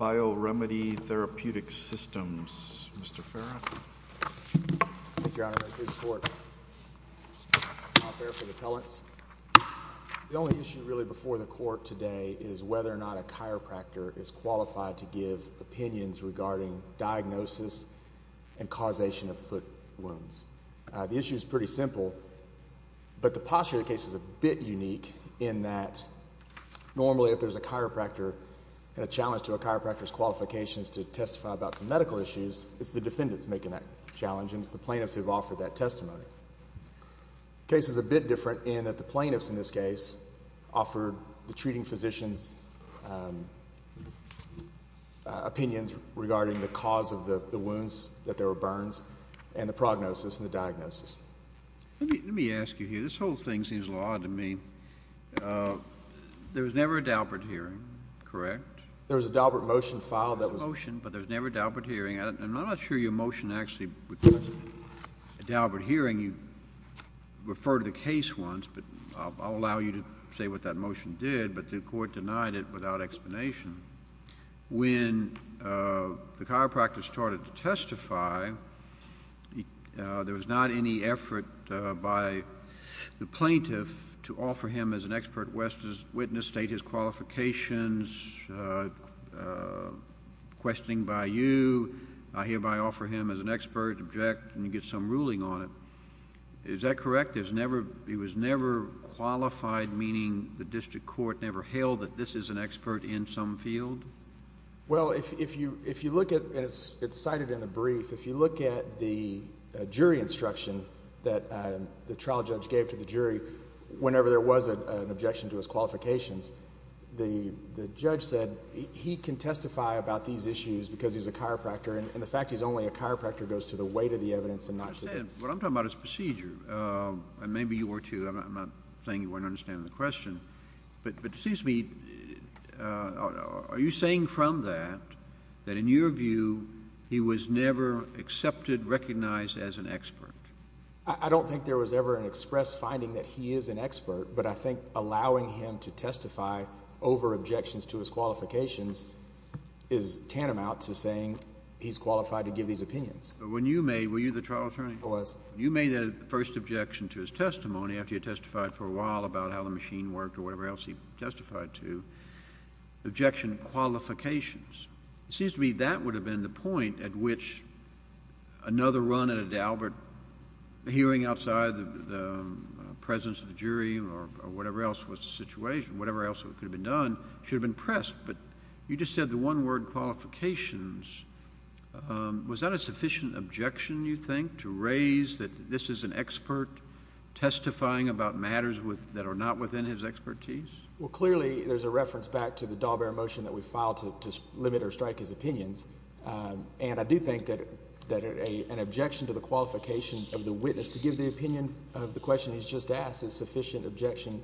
Bioremedi Therapeutic Systems, Mr. Farrah. Thank you, Your Honor. Here's the court. I'm here for the appellants. The only issue really before the court today is whether or not a chiropractor is qualified to give opinions regarding diagnosis and causation of foot wounds. The issue is pretty simple, but the posture of the case is a bit unique in that normally if there's a chiropractor and a challenge to a chiropractor's qualifications to testify about some medical issues, it's the defendants making that challenge and it's the plaintiffs who have offered that testimony. The case is a bit different in that the plaintiffs in this case offered the treating physician's opinions regarding the cause of the wounds, that there were burns, and the prognosis and the diagnosis. Let me ask you here. This whole thing seems a little odd to me. There was never a Daubert hearing, correct? There was a Daubert motion filed. There was a motion, but there was never a Daubert hearing. I'm not sure your motion actually requested a Daubert hearing. You referred to the case once, but I'll allow you to say what that motion did, but the court denied it without explanation. When the chiropractor started to testify, there was not any effort by the plaintiff to offer him as an expert witness, state his qualifications, questioning by you. I hereby offer him as an expert, object, and get some ruling on it. Is that correct? He was never qualified, meaning the district court never held that this is an expert in some field? Well, if you look at, and it's cited in the brief, if you look at the jury instruction that the trial judge gave to the jury whenever there was an objection to his qualifications, the judge said he can testify about these issues because he's a chiropractor, and the fact he's only a chiropractor goes to the weight of the evidence and not to the... Are you saying from that, that in your view, he was never accepted, recognized as an expert? I don't think there was ever an express finding that he is an expert, but I think allowing him to testify over objections to his qualifications is tantamount to saying he's qualified to give these opinions. But when you made, were you the trial attorney? I was. Was that a sufficient objection, you think, to raise that this is an expert testifying about matters that are not within his expertise? Well, clearly, there's a reference back to the Dalbert motion that we filed to limit or strike his opinions, and I do think that an objection to the qualification of the witness to give the opinion of the question he's just asked is sufficient objection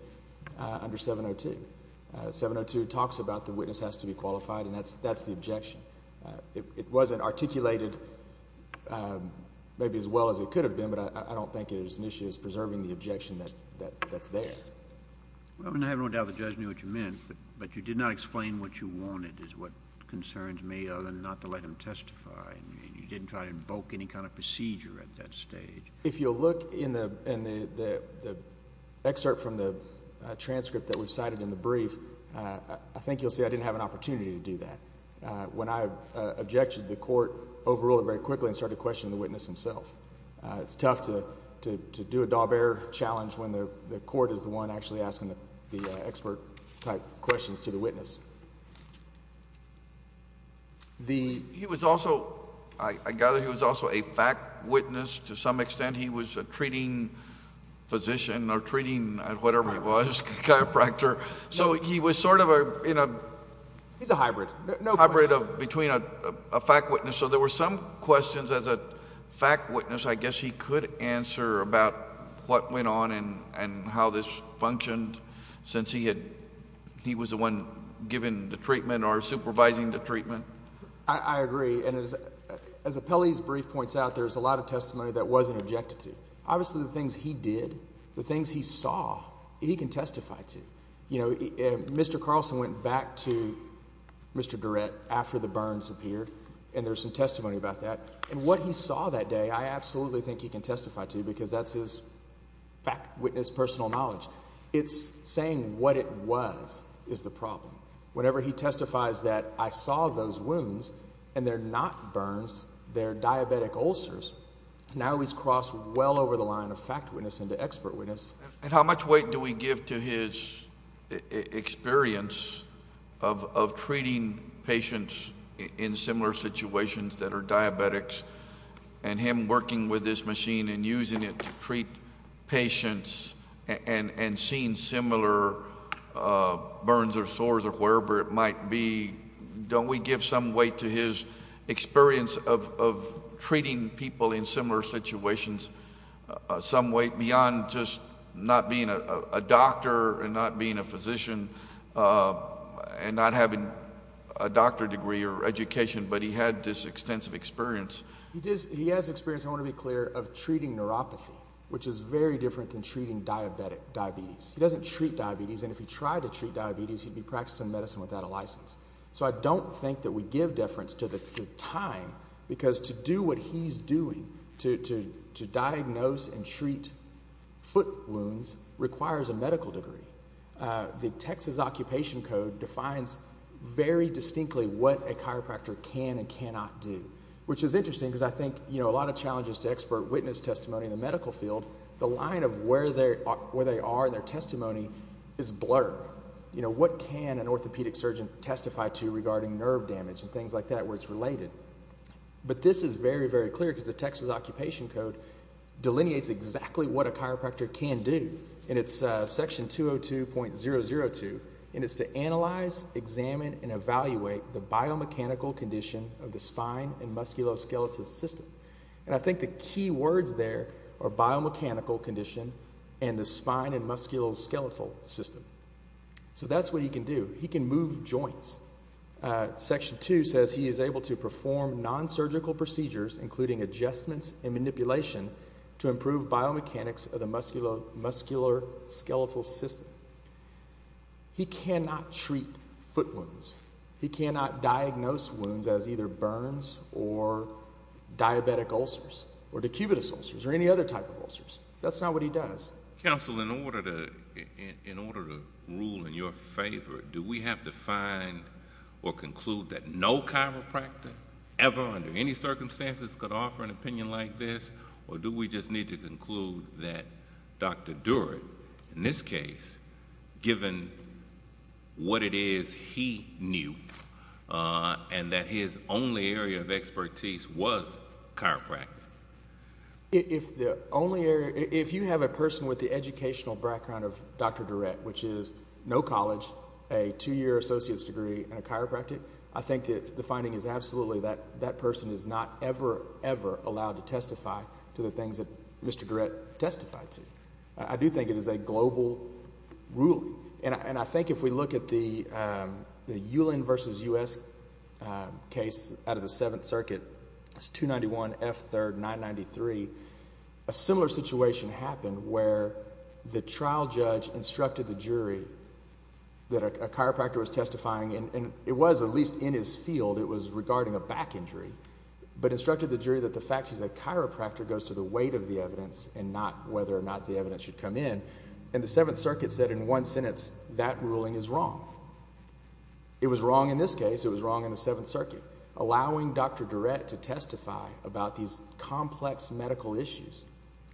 under 702. 702 talks about the witness has to be qualified, and that's the objection. It wasn't articulated maybe as well as it could have been, but I don't think it is an issue as preserving the objection that's there. Well, I have no doubt the judge knew what you meant, but you did not explain what you wanted is what concerns me other than not to let him testify, and you didn't try to invoke any kind of procedure at that stage. If you'll look in the excerpt from the transcript that we cited in the brief, I think you'll see I didn't have an opportunity to do that. When I objected, the court overruled it very quickly and started questioning the witness himself. It's tough to do a Dalbert challenge when the court is the one actually asking the expert-type questions to the witness. He was also—I gather he was also a fact witness to some extent. He was a treating physician or treating whatever he was, chiropractor. So he was sort of in a— He's a hybrid. Hybrid between a fact witness. And so there were some questions as a fact witness I guess he could answer about what went on and how this functioned since he had—he was the one giving the treatment or supervising the treatment. I agree. And as Appellee's brief points out, there's a lot of testimony that wasn't objected to. Obviously the things he did, the things he saw, he can testify to. Mr. Carlson went back to Mr. Durrett after the burns appeared, and there's some testimony about that. And what he saw that day I absolutely think he can testify to because that's his fact witness personal knowledge. It's saying what it was is the problem. Whenever he testifies that I saw those wounds and they're not burns, they're diabetic ulcers, now he's crossed well over the line of fact witness into expert witness. And how much weight do we give to his experience of treating patients in similar situations that are diabetics and him working with this machine and using it to treat patients and seeing similar burns or sores or wherever it might be? Don't we give some weight to his experience of treating people in similar situations some weight beyond just not being a doctor and not being a physician and not having a doctor degree or education, but he had this extensive experience? He has experience, I want to be clear, of treating neuropathy, which is very different than treating diabetes. He doesn't treat diabetes, and if he tried to treat diabetes, he'd be practicing medicine without a license. So I don't think that we give deference to the time because to do what he's doing, to diagnose and treat foot wounds, requires a medical degree. The Texas Occupation Code defines very distinctly what a chiropractor can and cannot do, which is interesting because I think a lot of challenges to expert witness testimony in the medical field. The line of where they are in their testimony is blurred. What can an orthopedic surgeon testify to regarding nerve damage and things like that where it's related? But this is very, very clear because the Texas Occupation Code delineates exactly what a chiropractor can do. And it's section 202.002, and it's to analyze, examine, and evaluate the biomechanical condition of the spine and musculoskeletal system. And I think the key words there are biomechanical condition and the spine and musculoskeletal system. So that's what he can do. He can move joints. Section 2 says he is able to perform nonsurgical procedures, including adjustments and manipulation, to improve biomechanics of the musculoskeletal system. He cannot treat foot wounds. He cannot diagnose wounds as either burns or diabetic ulcers or decubitus ulcers or any other type of ulcers. That's not what he does. Counsel, in order to rule in your favor, do we have to find or conclude that no chiropractor ever under any circumstances could offer an opinion like this? Or do we just need to conclude that Dr. Durrett, in this case, given what it is he knew and that his only area of expertise was chiropractic? If you have a person with the educational background of Dr. Durrett, which is no college, a two-year associate's degree, and a chiropractic, I think that the finding is absolutely that that person is not ever, ever allowed to testify to the things that Mr. Durrett testified to. I do think it is a global ruling. And I think if we look at the Ulin versus U.S. case out of the Seventh Circuit, it's 291 F. 3rd, 993, a similar situation happened where the trial judge instructed the jury that a chiropractor was testifying, and it was at least in his field, it was regarding a back injury, but instructed the jury that the fact is a chiropractor goes to the weight of the evidence and not whether or not the evidence should come in. And the Seventh Circuit said in one sentence, that ruling is wrong. It was wrong in this case. It was wrong in the Seventh Circuit, allowing Dr. Durrett to testify about these complex medical issues.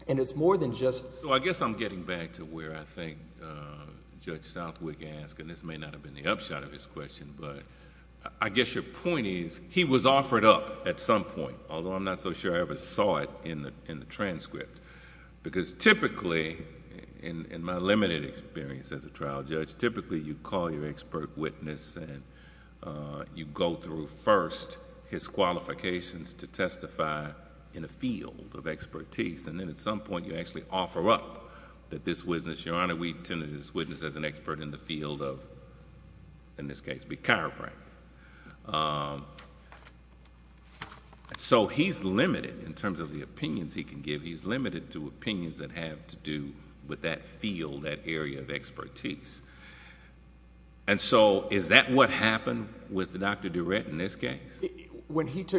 And it's more than just... So I guess I'm getting back to where I think Judge Southwick asked, and this may not have been the upshot of his question, but I guess your point is he was offered up at some point, although I'm not so sure I ever saw it in the transcript. Because typically, in my limited experience as a trial judge, typically you call your expert witness, and you go through first his qualifications to testify in a field of expertise, and then at some point you actually offer up that this witness, Your Honor, we tended this witness as an expert in the field of, in this case, be chiropractic. So he's limited in terms of the opinions he can give. He's limited to opinions that have to do with that field, that area of expertise. And so is that what happened with Dr. Durrett in this case?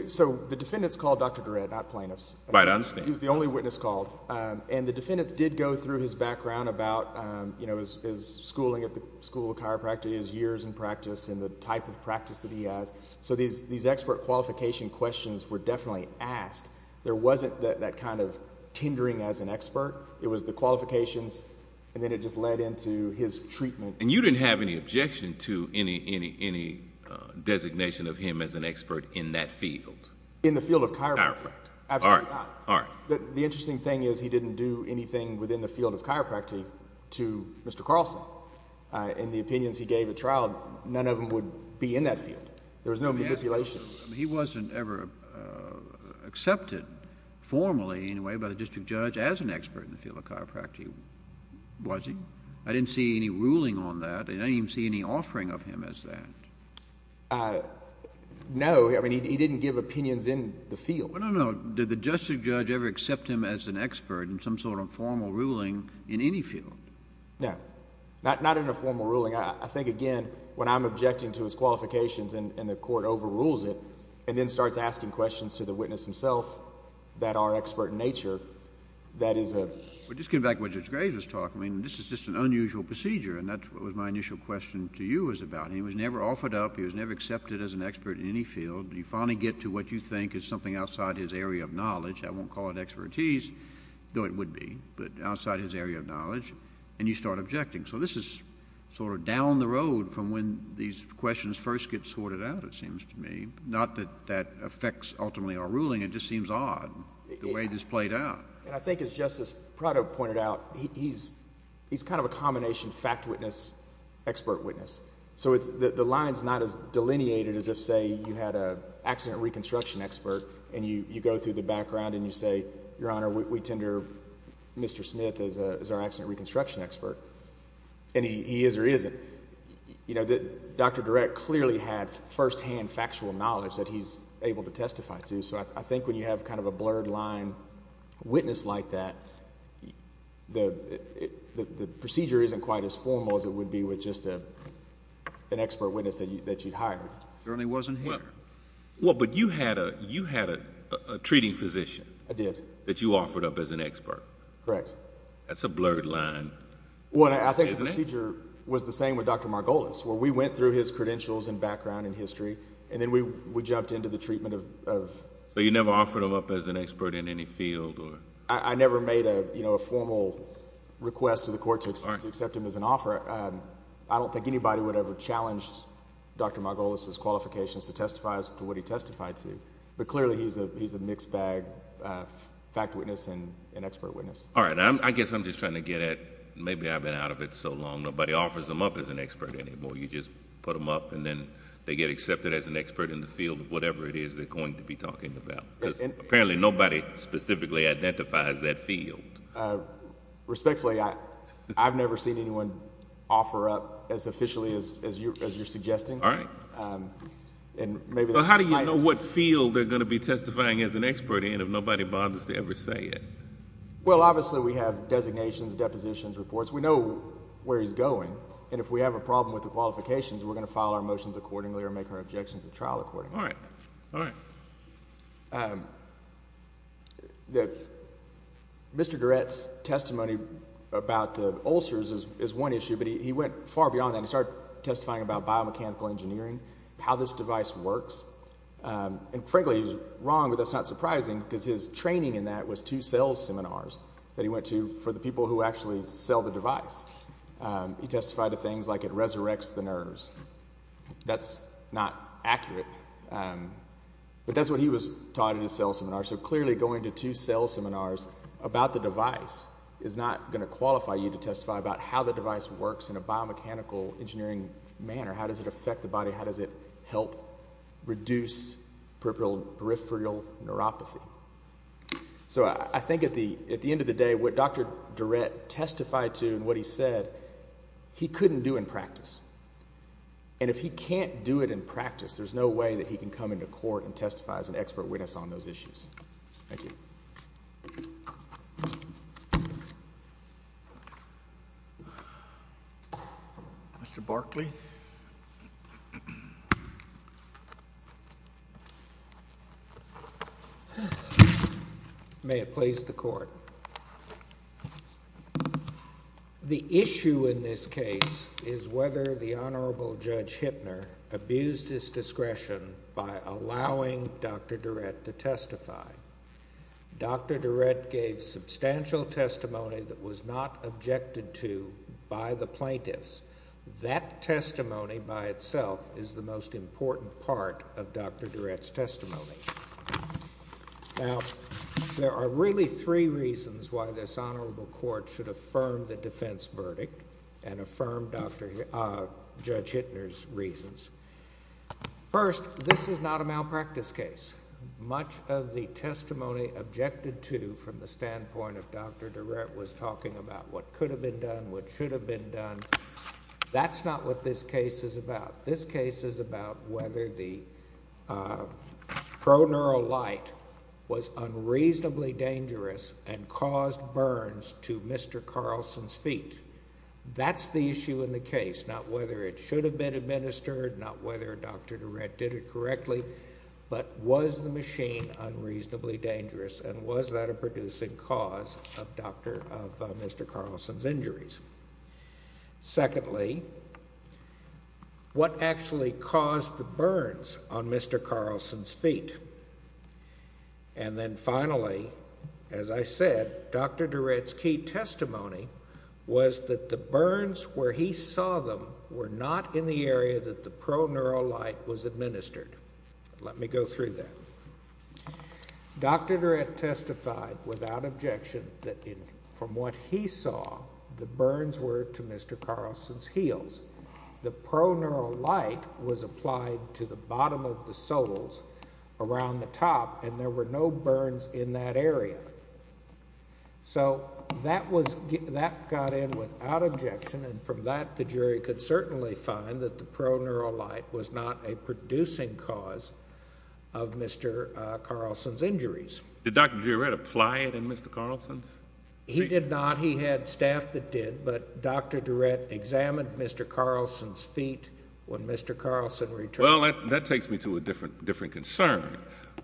So the defendants called Dr. Durrett, not plaintiffs. Right, I understand. He was the only witness called. And the defendants did go through his background about his schooling at the School of Chiropractic, his years in practice, and the type of practice that he has. So these expert qualification questions were definitely asked. There wasn't that kind of tendering as an expert. It was the qualifications, and then it just led into his treatment. And you didn't have any objection to any designation of him as an expert in that field? In the field of chiropractic? Absolutely not. All right. The interesting thing is he didn't do anything within the field of chiropractic to Mr. Carlson. In the opinions he gave at trial, none of them would be in that field. There was no manipulation. He wasn't ever accepted formally, in a way, by the district judge as an expert in the field of chiropractic, was he? I didn't see any ruling on that. I didn't even see any offering of him as that. No, he didn't give opinions in the field. No, no, no. Did the district judge ever accept him as an expert in some sort of formal ruling in any field? No, not in a formal ruling. I think, again, when I'm objecting to his qualifications and the court overrules it and then starts asking questions to the witness himself that are expert in nature, that is a— Well, just going back to what Judge Graves was talking about, this is just an unusual procedure, and that's what my initial question to you was about. He was never offered up. He was never accepted as an expert in any field. You finally get to what you think is something outside his area of knowledge. I won't call it expertise, though it would be, but outside his area of knowledge, and you start objecting. So this is sort of down the road from when these questions first get sorted out, it seems to me, not that that affects ultimately our ruling. It just seems odd the way this played out. I think, as Justice Prado pointed out, he's kind of a combination fact witness, expert witness. So the line is not as delineated as if, say, you had an accident reconstruction expert and you go through the background and you say, Your Honor, we tender Mr. Smith as our accident reconstruction expert, and he is or isn't. You know, Dr. Durett clearly had firsthand factual knowledge that he's able to testify to, so I think when you have kind of a blurred line witness like that, the procedure isn't quite as formal as it would be with just an expert witness that you'd hired. Well, but you had a treating physician. I did. That you offered up as an expert. Correct. That's a blurred line. Well, I think the procedure was the same with Dr. Margolis, where we went through his credentials and background and history, and then we jumped into the treatment of... So you never offered him up as an expert in any field or... I never made a formal request to the court to accept him as an offer. I don't think anybody would ever challenge Dr. Margolis' qualifications to testify to what he testified to, but clearly he's a mixed bag fact witness and expert witness. All right. I guess I'm just trying to get at maybe I've been out of it so long, nobody offers them up as an expert anymore. You just put them up and then they get accepted as an expert in the field of whatever it is they're going to be talking about. Apparently nobody specifically identifies that field. Respectfully, I've never seen anyone offer up as officially as you're suggesting. All right. How do you know what field they're going to be testifying as an expert in if nobody bothers to ever say it? Well, obviously we have designations, depositions, reports. We know where he's going, and if we have a problem with the qualifications, we're going to file our motions accordingly or make our objections at trial accordingly. All right. All right. Mr. Garrett's testimony about the ulcers is one issue, but he went far beyond that. He started testifying about biomechanical engineering, how this device works, and frankly he's wrong, but that's not surprising because his training in that was two sales seminars that he went to for the people who actually sell the device. He testified to things like it resurrects the nerves. That's not accurate. But that's what he was taught in his sales seminar, so clearly going to two sales seminars about the device is not going to qualify you to testify about how the device works in a biomechanical engineering manner, how does it affect the body, how does it help reduce peripheral neuropathy. So I think at the end of the day, what Dr. Durrett testified to and what he said, he couldn't do in practice, and if he can't do it in practice, there's no way that he can come into court and testify as an expert witness on those issues. Thank you. Mr. Barkley. May it please the Court. The issue in this case is whether the Honorable Judge Hittner abused his discretion by allowing Dr. Durrett to testify. Dr. Durrett gave substantial testimony that was not objected to by the plaintiffs. That testimony by itself is the most important part of Dr. Durrett's testimony. Now, there are really three reasons why this Honorable Court should affirm the defense verdict and affirm Judge Hittner's reasons. First, this is not a malpractice case. Much of the testimony objected to from the standpoint of Dr. Durrett was talking about what could have been done, what should have been done. That's not what this case is about. This case is about whether the proneural light was unreasonably dangerous and caused burns to Mr. Carlson's feet. That's the issue in the case, not whether it should have been administered, not whether Dr. Durrett did it correctly, but was the machine unreasonably dangerous and was that a producing cause of Mr. Carlson's injuries? Secondly, what actually caused the burns on Mr. Carlson's feet? And then finally, as I said, Dr. Durrett's key testimony was that the burns where he saw them were not in the area that the proneural light was administered. Let me go through that. Dr. Durrett testified without objection that from what he saw, the burns were to Mr. Carlson's heels. The proneural light was applied to the bottom of the soles around the top, and there were no burns in that area. So that got in without objection, and from that the jury could certainly find that the proneural light was not a producing cause of Mr. Carlson's injuries. Did Dr. Durrett apply it in Mr. Carlson's feet? He did not. He had staff that did, but Dr. Durrett examined Mr. Carlson's feet when Mr. Carlson returned. Well, that takes me to a different concern,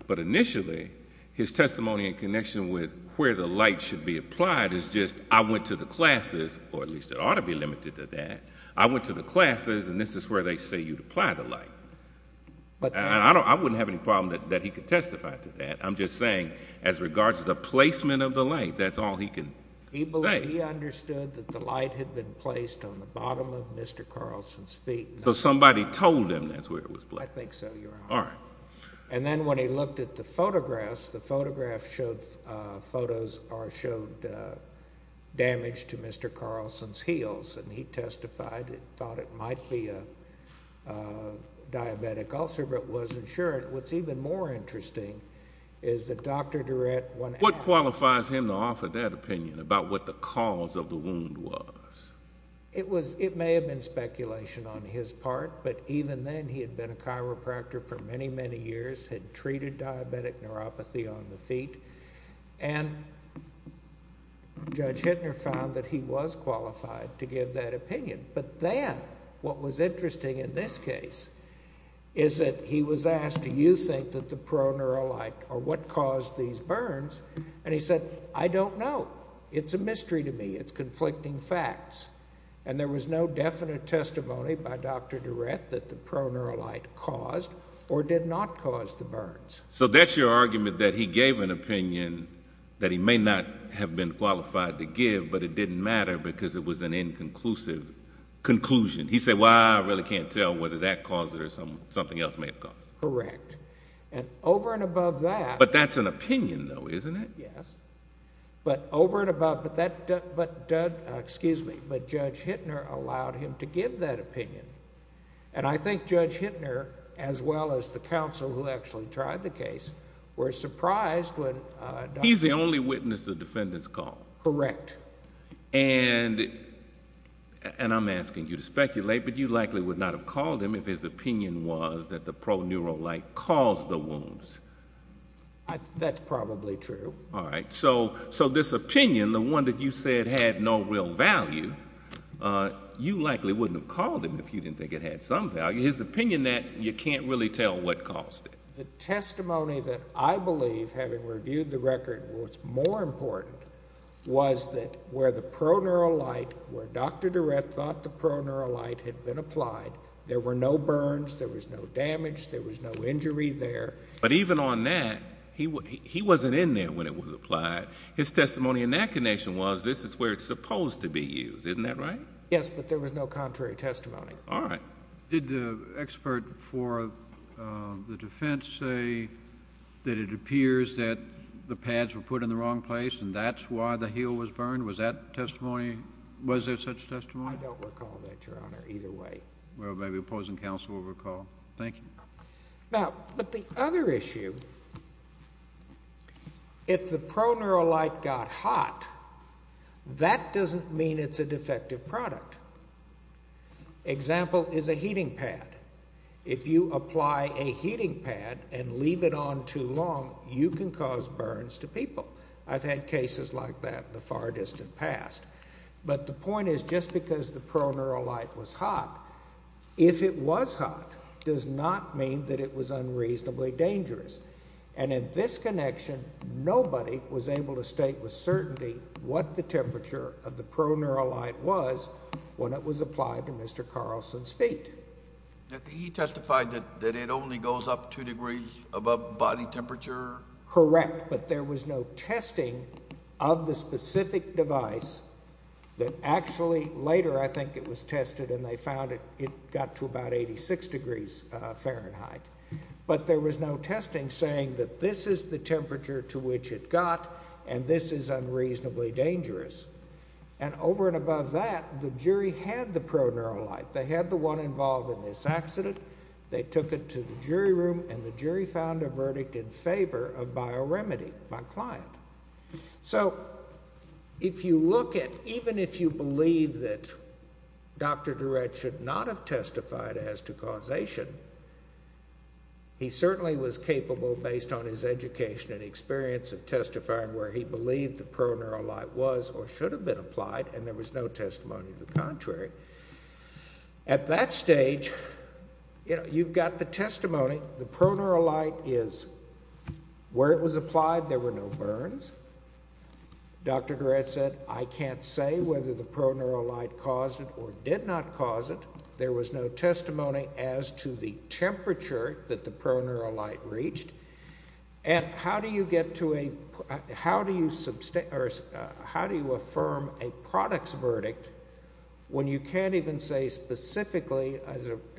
but initially his testimony in connection with where the light should be applied is just, I went to the classes, or at least it ought to be limited to that. I went to the classes, and this is where they say you apply the light. I wouldn't have any problem that he could testify to that. I'm just saying as regards to the placement of the light, that's all he can say. He understood that the light had been placed on the bottom of Mr. Carlson's feet. So somebody told him that's where it was placed. I think so, Your Honor. All right. And then when he looked at the photographs, the photographs showed damage to Mr. Carlson's heels, and he testified, thought it might be a diabetic ulcer, but wasn't sure. What's even more interesting is that Dr. Durrett went after him. What qualifies him to offer that opinion about what the cause of the wound was? It was, it may have been speculation on his part, but even then he had been a chiropractor for many, many years, had treated diabetic neuropathy on the feet, and Judge Hittner found that he was qualified to give that opinion. But then what was interesting in this case is that he was asked, do you think that the proneural light or what caused these burns? And he said, I don't know. It's a mystery to me. It's conflicting facts. And there was no definite testimony by Dr. Durrett that the proneural light caused or did not cause the burns. So that's your argument, that he gave an opinion that he may not have been qualified to give, but it didn't matter because it was an inconclusive conclusion. He said, well, I really can't tell whether that caused it or something else may have caused it. Correct. And over and above that. But that's an opinion, though, isn't it? Yes. But over and above, but Judge Hittner allowed him to give that opinion. And I think Judge Hittner, as well as the counsel who actually tried the case, were surprised when Dr. Durrett. He's the only witness the defendants called. Correct. And I'm asking you to speculate, but you likely would not have called him if his opinion was that the proneural light caused the wounds. That's probably true. All right. So this opinion, the one that you said had no real value, you likely wouldn't have called him if you didn't think it had some value. His opinion that you can't really tell what caused it. The testimony that I believe, having reviewed the record, what's more important was that where the proneural light, where Dr. Durrett thought the proneural light had been applied, there were no burns, there was no damage, there was no injury there. But even on that, he wasn't in there when it was applied. His testimony in that connection was this is where it's supposed to be used. Isn't that right? Yes, but there was no contrary testimony. All right. Did the expert for the defense say that it appears that the pads were put in the wrong place and that's why the heel was burned? Was that testimony, was there such testimony? I don't recall that, Your Honor, either way. Well, maybe opposing counsel will recall. Thank you. Now, but the other issue, if the proneural light got hot, that doesn't mean it's a defective product. Example is a heating pad. If you apply a heating pad and leave it on too long, you can cause burns to people. I've had cases like that in the far distant past. But the point is just because the proneural light was hot, if it was hot, does not mean that it was unreasonably dangerous. And in this connection, nobody was able to state with certainty what the temperature of the proneural light was when it was applied to Mr. Carlson's feet. He testified that it only goes up two degrees above body temperature? Correct, but there was no testing of the specific device that actually later I think it was tested and they found it got to about 86 degrees Fahrenheit. But there was no testing saying that this is the temperature to which it got and this is unreasonably dangerous. And over and above that, the jury had the proneural light. They had the one involved in this accident. They took it to the jury room and the jury found a verdict in favor of bioremedy by client. So if you look at even if you believe that Dr. Durrett should not have testified as to causation, he certainly was capable based on his education and experience of testifying where he believed the proneural light was or should have been applied and there was no testimony to the contrary. At that stage, you've got the testimony. The proneural light is where it was applied. There were no burns. Dr. Durrett said, I can't say whether the proneural light caused it or did not cause it. There was no testimony as to the temperature that the proneural light reached. And how do you get to a how do you affirm a product's verdict when you can't even say specifically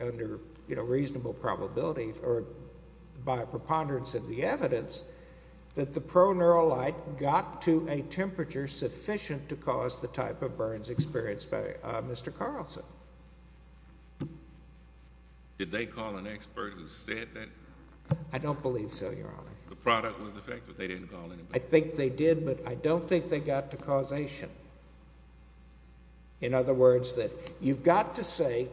under reasonable probability or by preponderance of the evidence that the proneural light got to a temperature sufficient to cause the type of burns experienced by Mr. Carlson? Did they call an expert who said that? I don't believe so, Your Honor. The product was effective. They didn't call anybody. I think they did, but I don't think they got to causation. In other words, that you've got to say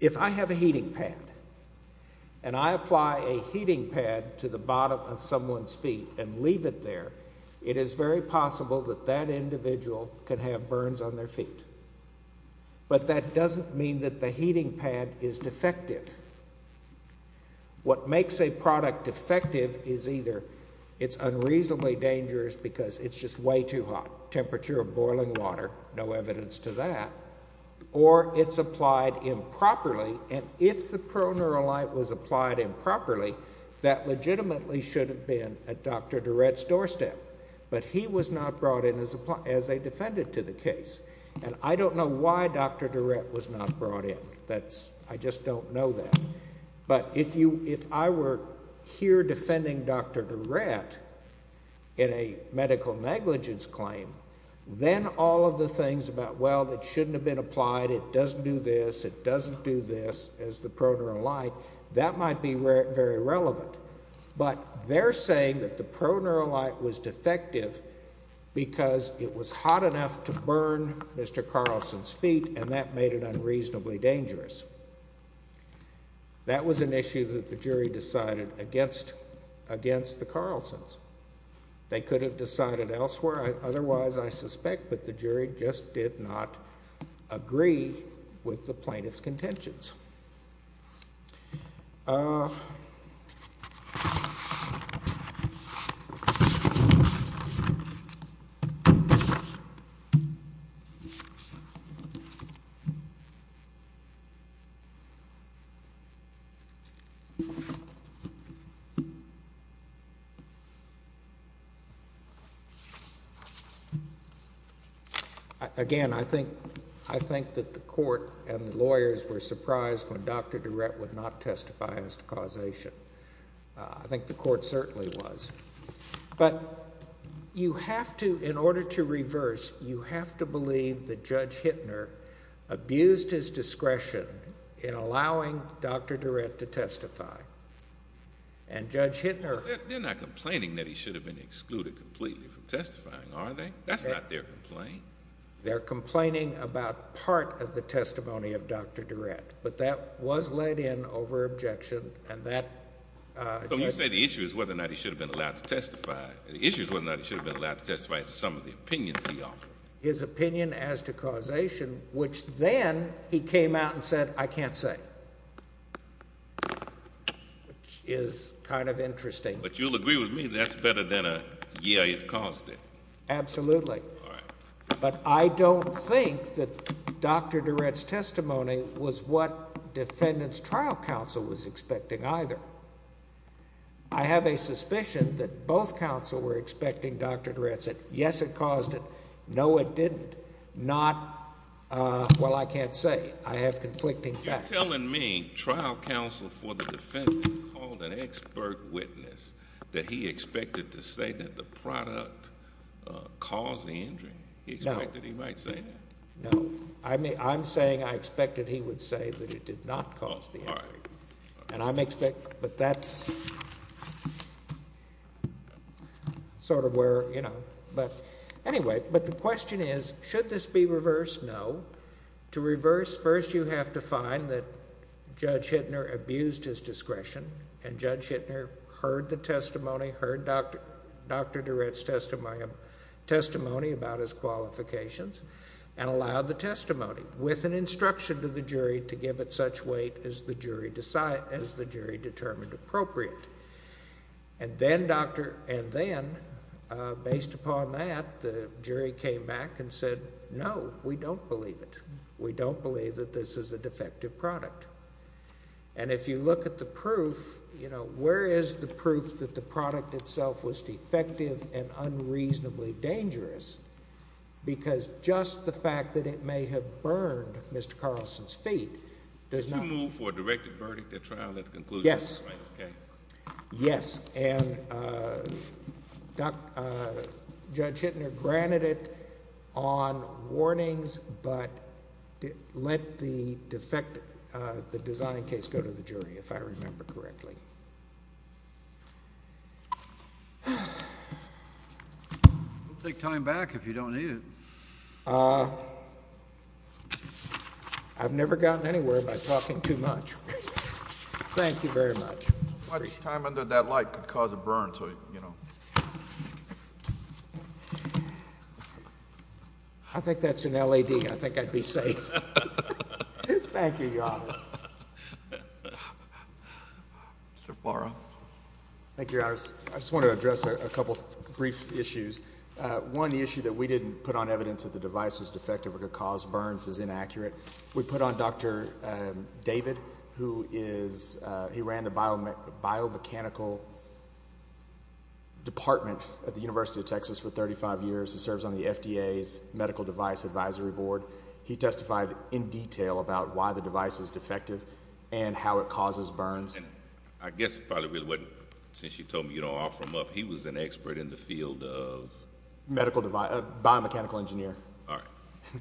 if I have a heating pad and I apply a heating pad to the bottom of someone's feet and leave it there, it is very possible that that individual can have burns on their feet. But that doesn't mean that the heating pad is defective. What makes a product defective is either it's unreasonably dangerous because it's just way too hot, temperature of boiling water, no evidence to that, or it's applied improperly. And if the proneural light was applied improperly, that legitimately should have been at Dr. Durrett's doorstep. But he was not brought in as a defendant to the case. And I don't know why Dr. Durrett was not brought in. I just don't know that. But if I were here defending Dr. Durrett in a medical negligence claim, then all of the things about, well, it shouldn't have been applied, it doesn't do this, it doesn't do this, as the proneural light, that might be very relevant. But they're saying that the proneural light was defective because it was hot enough to burn Mr. Carlson's feet and that made it unreasonably dangerous. That was an issue that the jury decided against the Carlsons. They could have decided elsewhere otherwise, I suspect, but the jury just did not agree with the plaintiff's contentions. Again, I think that the court and the lawyers were surprised that Dr. Durrett was brought in. They were surprised when Dr. Durrett would not testify as to causation. I think the court certainly was. But you have to, in order to reverse, you have to believe that Judge Hittner abused his discretion in allowing Dr. Durrett to testify. And Judge Hittner— They're not complaining that he should have been excluded completely from testifying, are they? That's not their complaint. They're complaining about part of the testimony of Dr. Durrett, but that was let in over objection, and that— So you say the issue is whether or not he should have been allowed to testify. The issue is whether or not he should have been allowed to testify as to some of the opinions he offered. His opinion as to causation, which then he came out and said, I can't say, which is kind of interesting. But you'll agree with me that's better than a, yeah, it caused it. Absolutely. All right. But I don't think that Dr. Durrett's testimony was what defendant's trial counsel was expecting either. I have a suspicion that both counsel were expecting Dr. Durrett to say, yes, it caused it, no, it didn't, not, well, I can't say. I have conflicting facts. Are you telling me trial counsel for the defendant called an expert witness that he expected to say that the product caused the injury? No. He expected he might say that? No. I'm saying I expected he would say that it did not cause the injury. All right. And I'm expecting—but that's sort of where, you know—but anyway, but the question is, should this be reversed? No. To reverse, first you have to find that Judge Hittner abused his discretion, and Judge Hittner heard the testimony, heard Dr. Durrett's testimony about his qualifications, and allowed the testimony, with an instruction to the jury to give it such weight as the jury determined appropriate. And then, based upon that, the jury came back and said, no, we don't believe it. We don't believe that this is a defective product. And if you look at the proof, you know, where is the proof that the product itself was defective and unreasonably dangerous? Because just the fact that it may have burned Mr. Carlson's feet does not— Did you move for a directed verdict at trial at the conclusion of this case? Yes. And Judge Hittner granted it on warnings, but let the defect—the design case go to the jury, if I remember correctly. We'll take time back if you don't need it. I've never gotten anywhere by talking too much. Thank you very much. How much time under that light could cause a burn to, you know— I think that's an LED. I think I'd be safe. Thank you, Your Honor. Mr. Farrow. Thank you, Your Honors. I just want to address a couple of brief issues. One, the issue that we didn't put on evidence that the device was defective or could cause burns is inaccurate. We put on Dr. David, who is—he ran the biomechanical department at the University of Texas for 35 years and serves on the FDA's medical device advisory board. He testified in detail about why the device is defective and how it causes burns. And I guess it probably really wasn't—since you told me you don't offer him up, he was an expert in the field of— Biomechanical engineer. All right.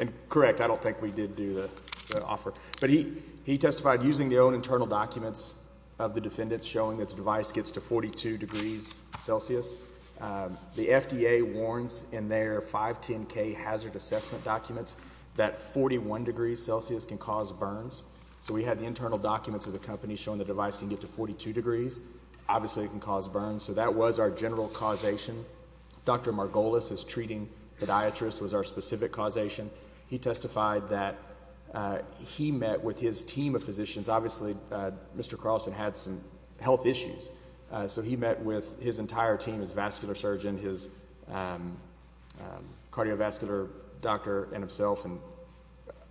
And correct, I don't think we did do the offer. But he testified using the own internal documents of the defendants showing that the device gets to 42 degrees Celsius. The FDA warns in their 510K hazard assessment documents that 41 degrees Celsius can cause burns. So we had the internal documents of the company showing the device can get to 42 degrees. Obviously, it can cause burns. So that was our general causation. Dr. Margolis is treating podiatrists was our specific causation. He testified that he met with his team of physicians. Obviously, Mr. Carlson had some health issues. So he met with his entire team, his vascular surgeon, his cardiovascular doctor and himself, and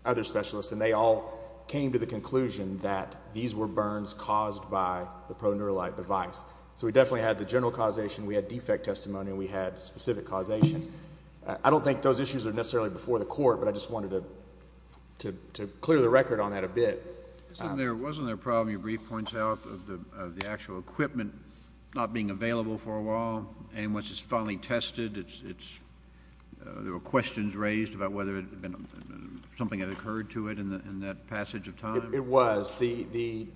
other specialists. And they all came to the conclusion that these were burns caused by the proneuralite device. So we definitely had the general causation. We had defect testimony, and we had specific causation. I don't think those issues are necessarily before the court, but I just wanted to clear the record on that a bit. Wasn't there a problem, your brief points out, of the actual equipment not being available for a while? And once it's finally tested, there were questions raised about whether something had occurred to it in that passage of time? It was. The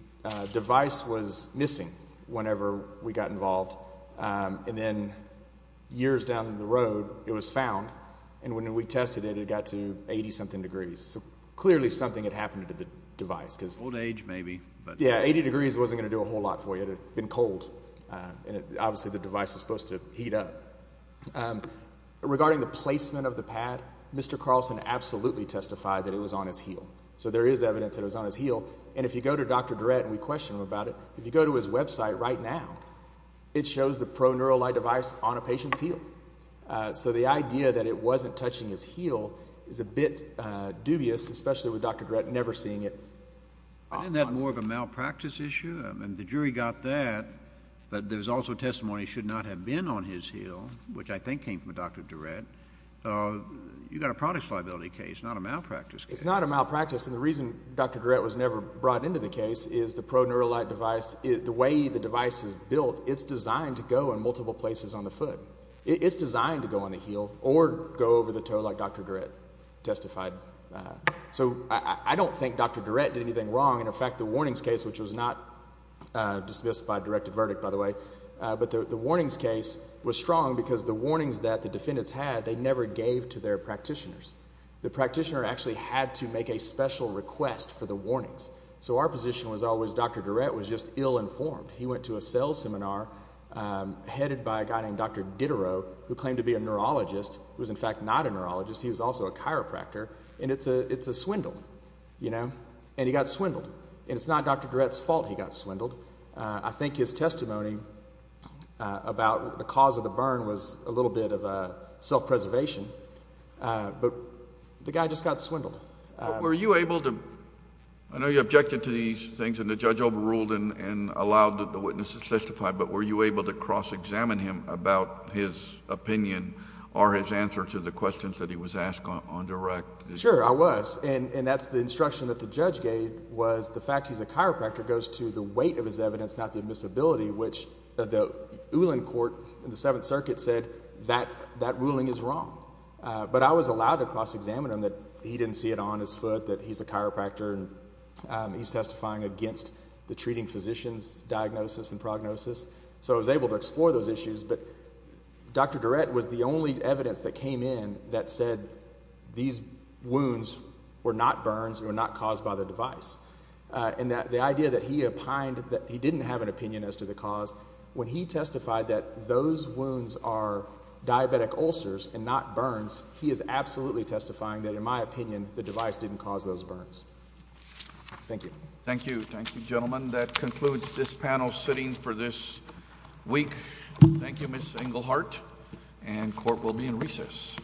device was missing whenever we got involved. And then years down the road, it was found. And when we tested it, it got to 80-something degrees. So clearly something had happened to the device. Old age, maybe. Yeah, 80 degrees wasn't going to do a whole lot for you. It had been cold, and obviously the device was supposed to heat up. Regarding the placement of the pad, Mr. Carlson absolutely testified that it was on his heel. So there is evidence that it was on his heel. And if you go to Dr. Durrett, and we question him about it, if you go to his website right now, it shows the proneural light device on a patient's heel. So the idea that it wasn't touching his heel is a bit dubious, especially with Dr. Durrett never seeing it. Isn't that more of a malpractice issue? I mean the jury got that, but there's also testimony it should not have been on his heel, which I think came from Dr. Durrett. You've got a product liability case, not a malpractice case. It's not a malpractice, and the reason Dr. Durrett was never brought into the case is the proneural light device, the way the device is built, it's designed to go in multiple places on the foot. It's designed to go on the heel or go over the toe like Dr. Durrett testified. So I don't think Dr. Durrett did anything wrong. In fact, the warnings case, which was not dismissed by a directed verdict, by the way, but the warnings case was strong because the warnings that the defendants had they never gave to their practitioners. The practitioner actually had to make a special request for the warnings. So our position was always Dr. Durrett was just ill-informed. He went to a cell seminar headed by a guy named Dr. Diderot, who claimed to be a neurologist, who was in fact not a neurologist. He was also a chiropractor, and it's a swindle, you know, and he got swindled, and it's not Dr. Durrett's fault he got swindled. I think his testimony about the cause of the burn was a little bit of a self-preservation, but the guy just got swindled. But were you able to—I know you objected to these things and the judge overruled and allowed the witness to testify, but were you able to cross-examine him about his opinion or his answer to the questions that he was asked on direct? Sure, I was, and that's the instruction that the judge gave was the fact he's a chiropractor goes to the weight of his evidence, not the admissibility, which the Ulan court in the Seventh Circuit said that ruling is wrong. But I was allowed to cross-examine him that he didn't see it on his foot that he's a chiropractor and he's testifying against the treating physician's diagnosis and prognosis, so I was able to explore those issues. But Dr. Durrett was the only evidence that came in that said these wounds were not burns and were not caused by the device. And the idea that he opined that he didn't have an opinion as to the cause, when he testified that those wounds are diabetic ulcers and not burns, he is absolutely testifying that, in my opinion, the device didn't cause those burns. Thank you. Thank you. Thank you, gentlemen. That concludes this panel sitting for this week. Thank you, Ms. Engelhardt, and court will be in recess.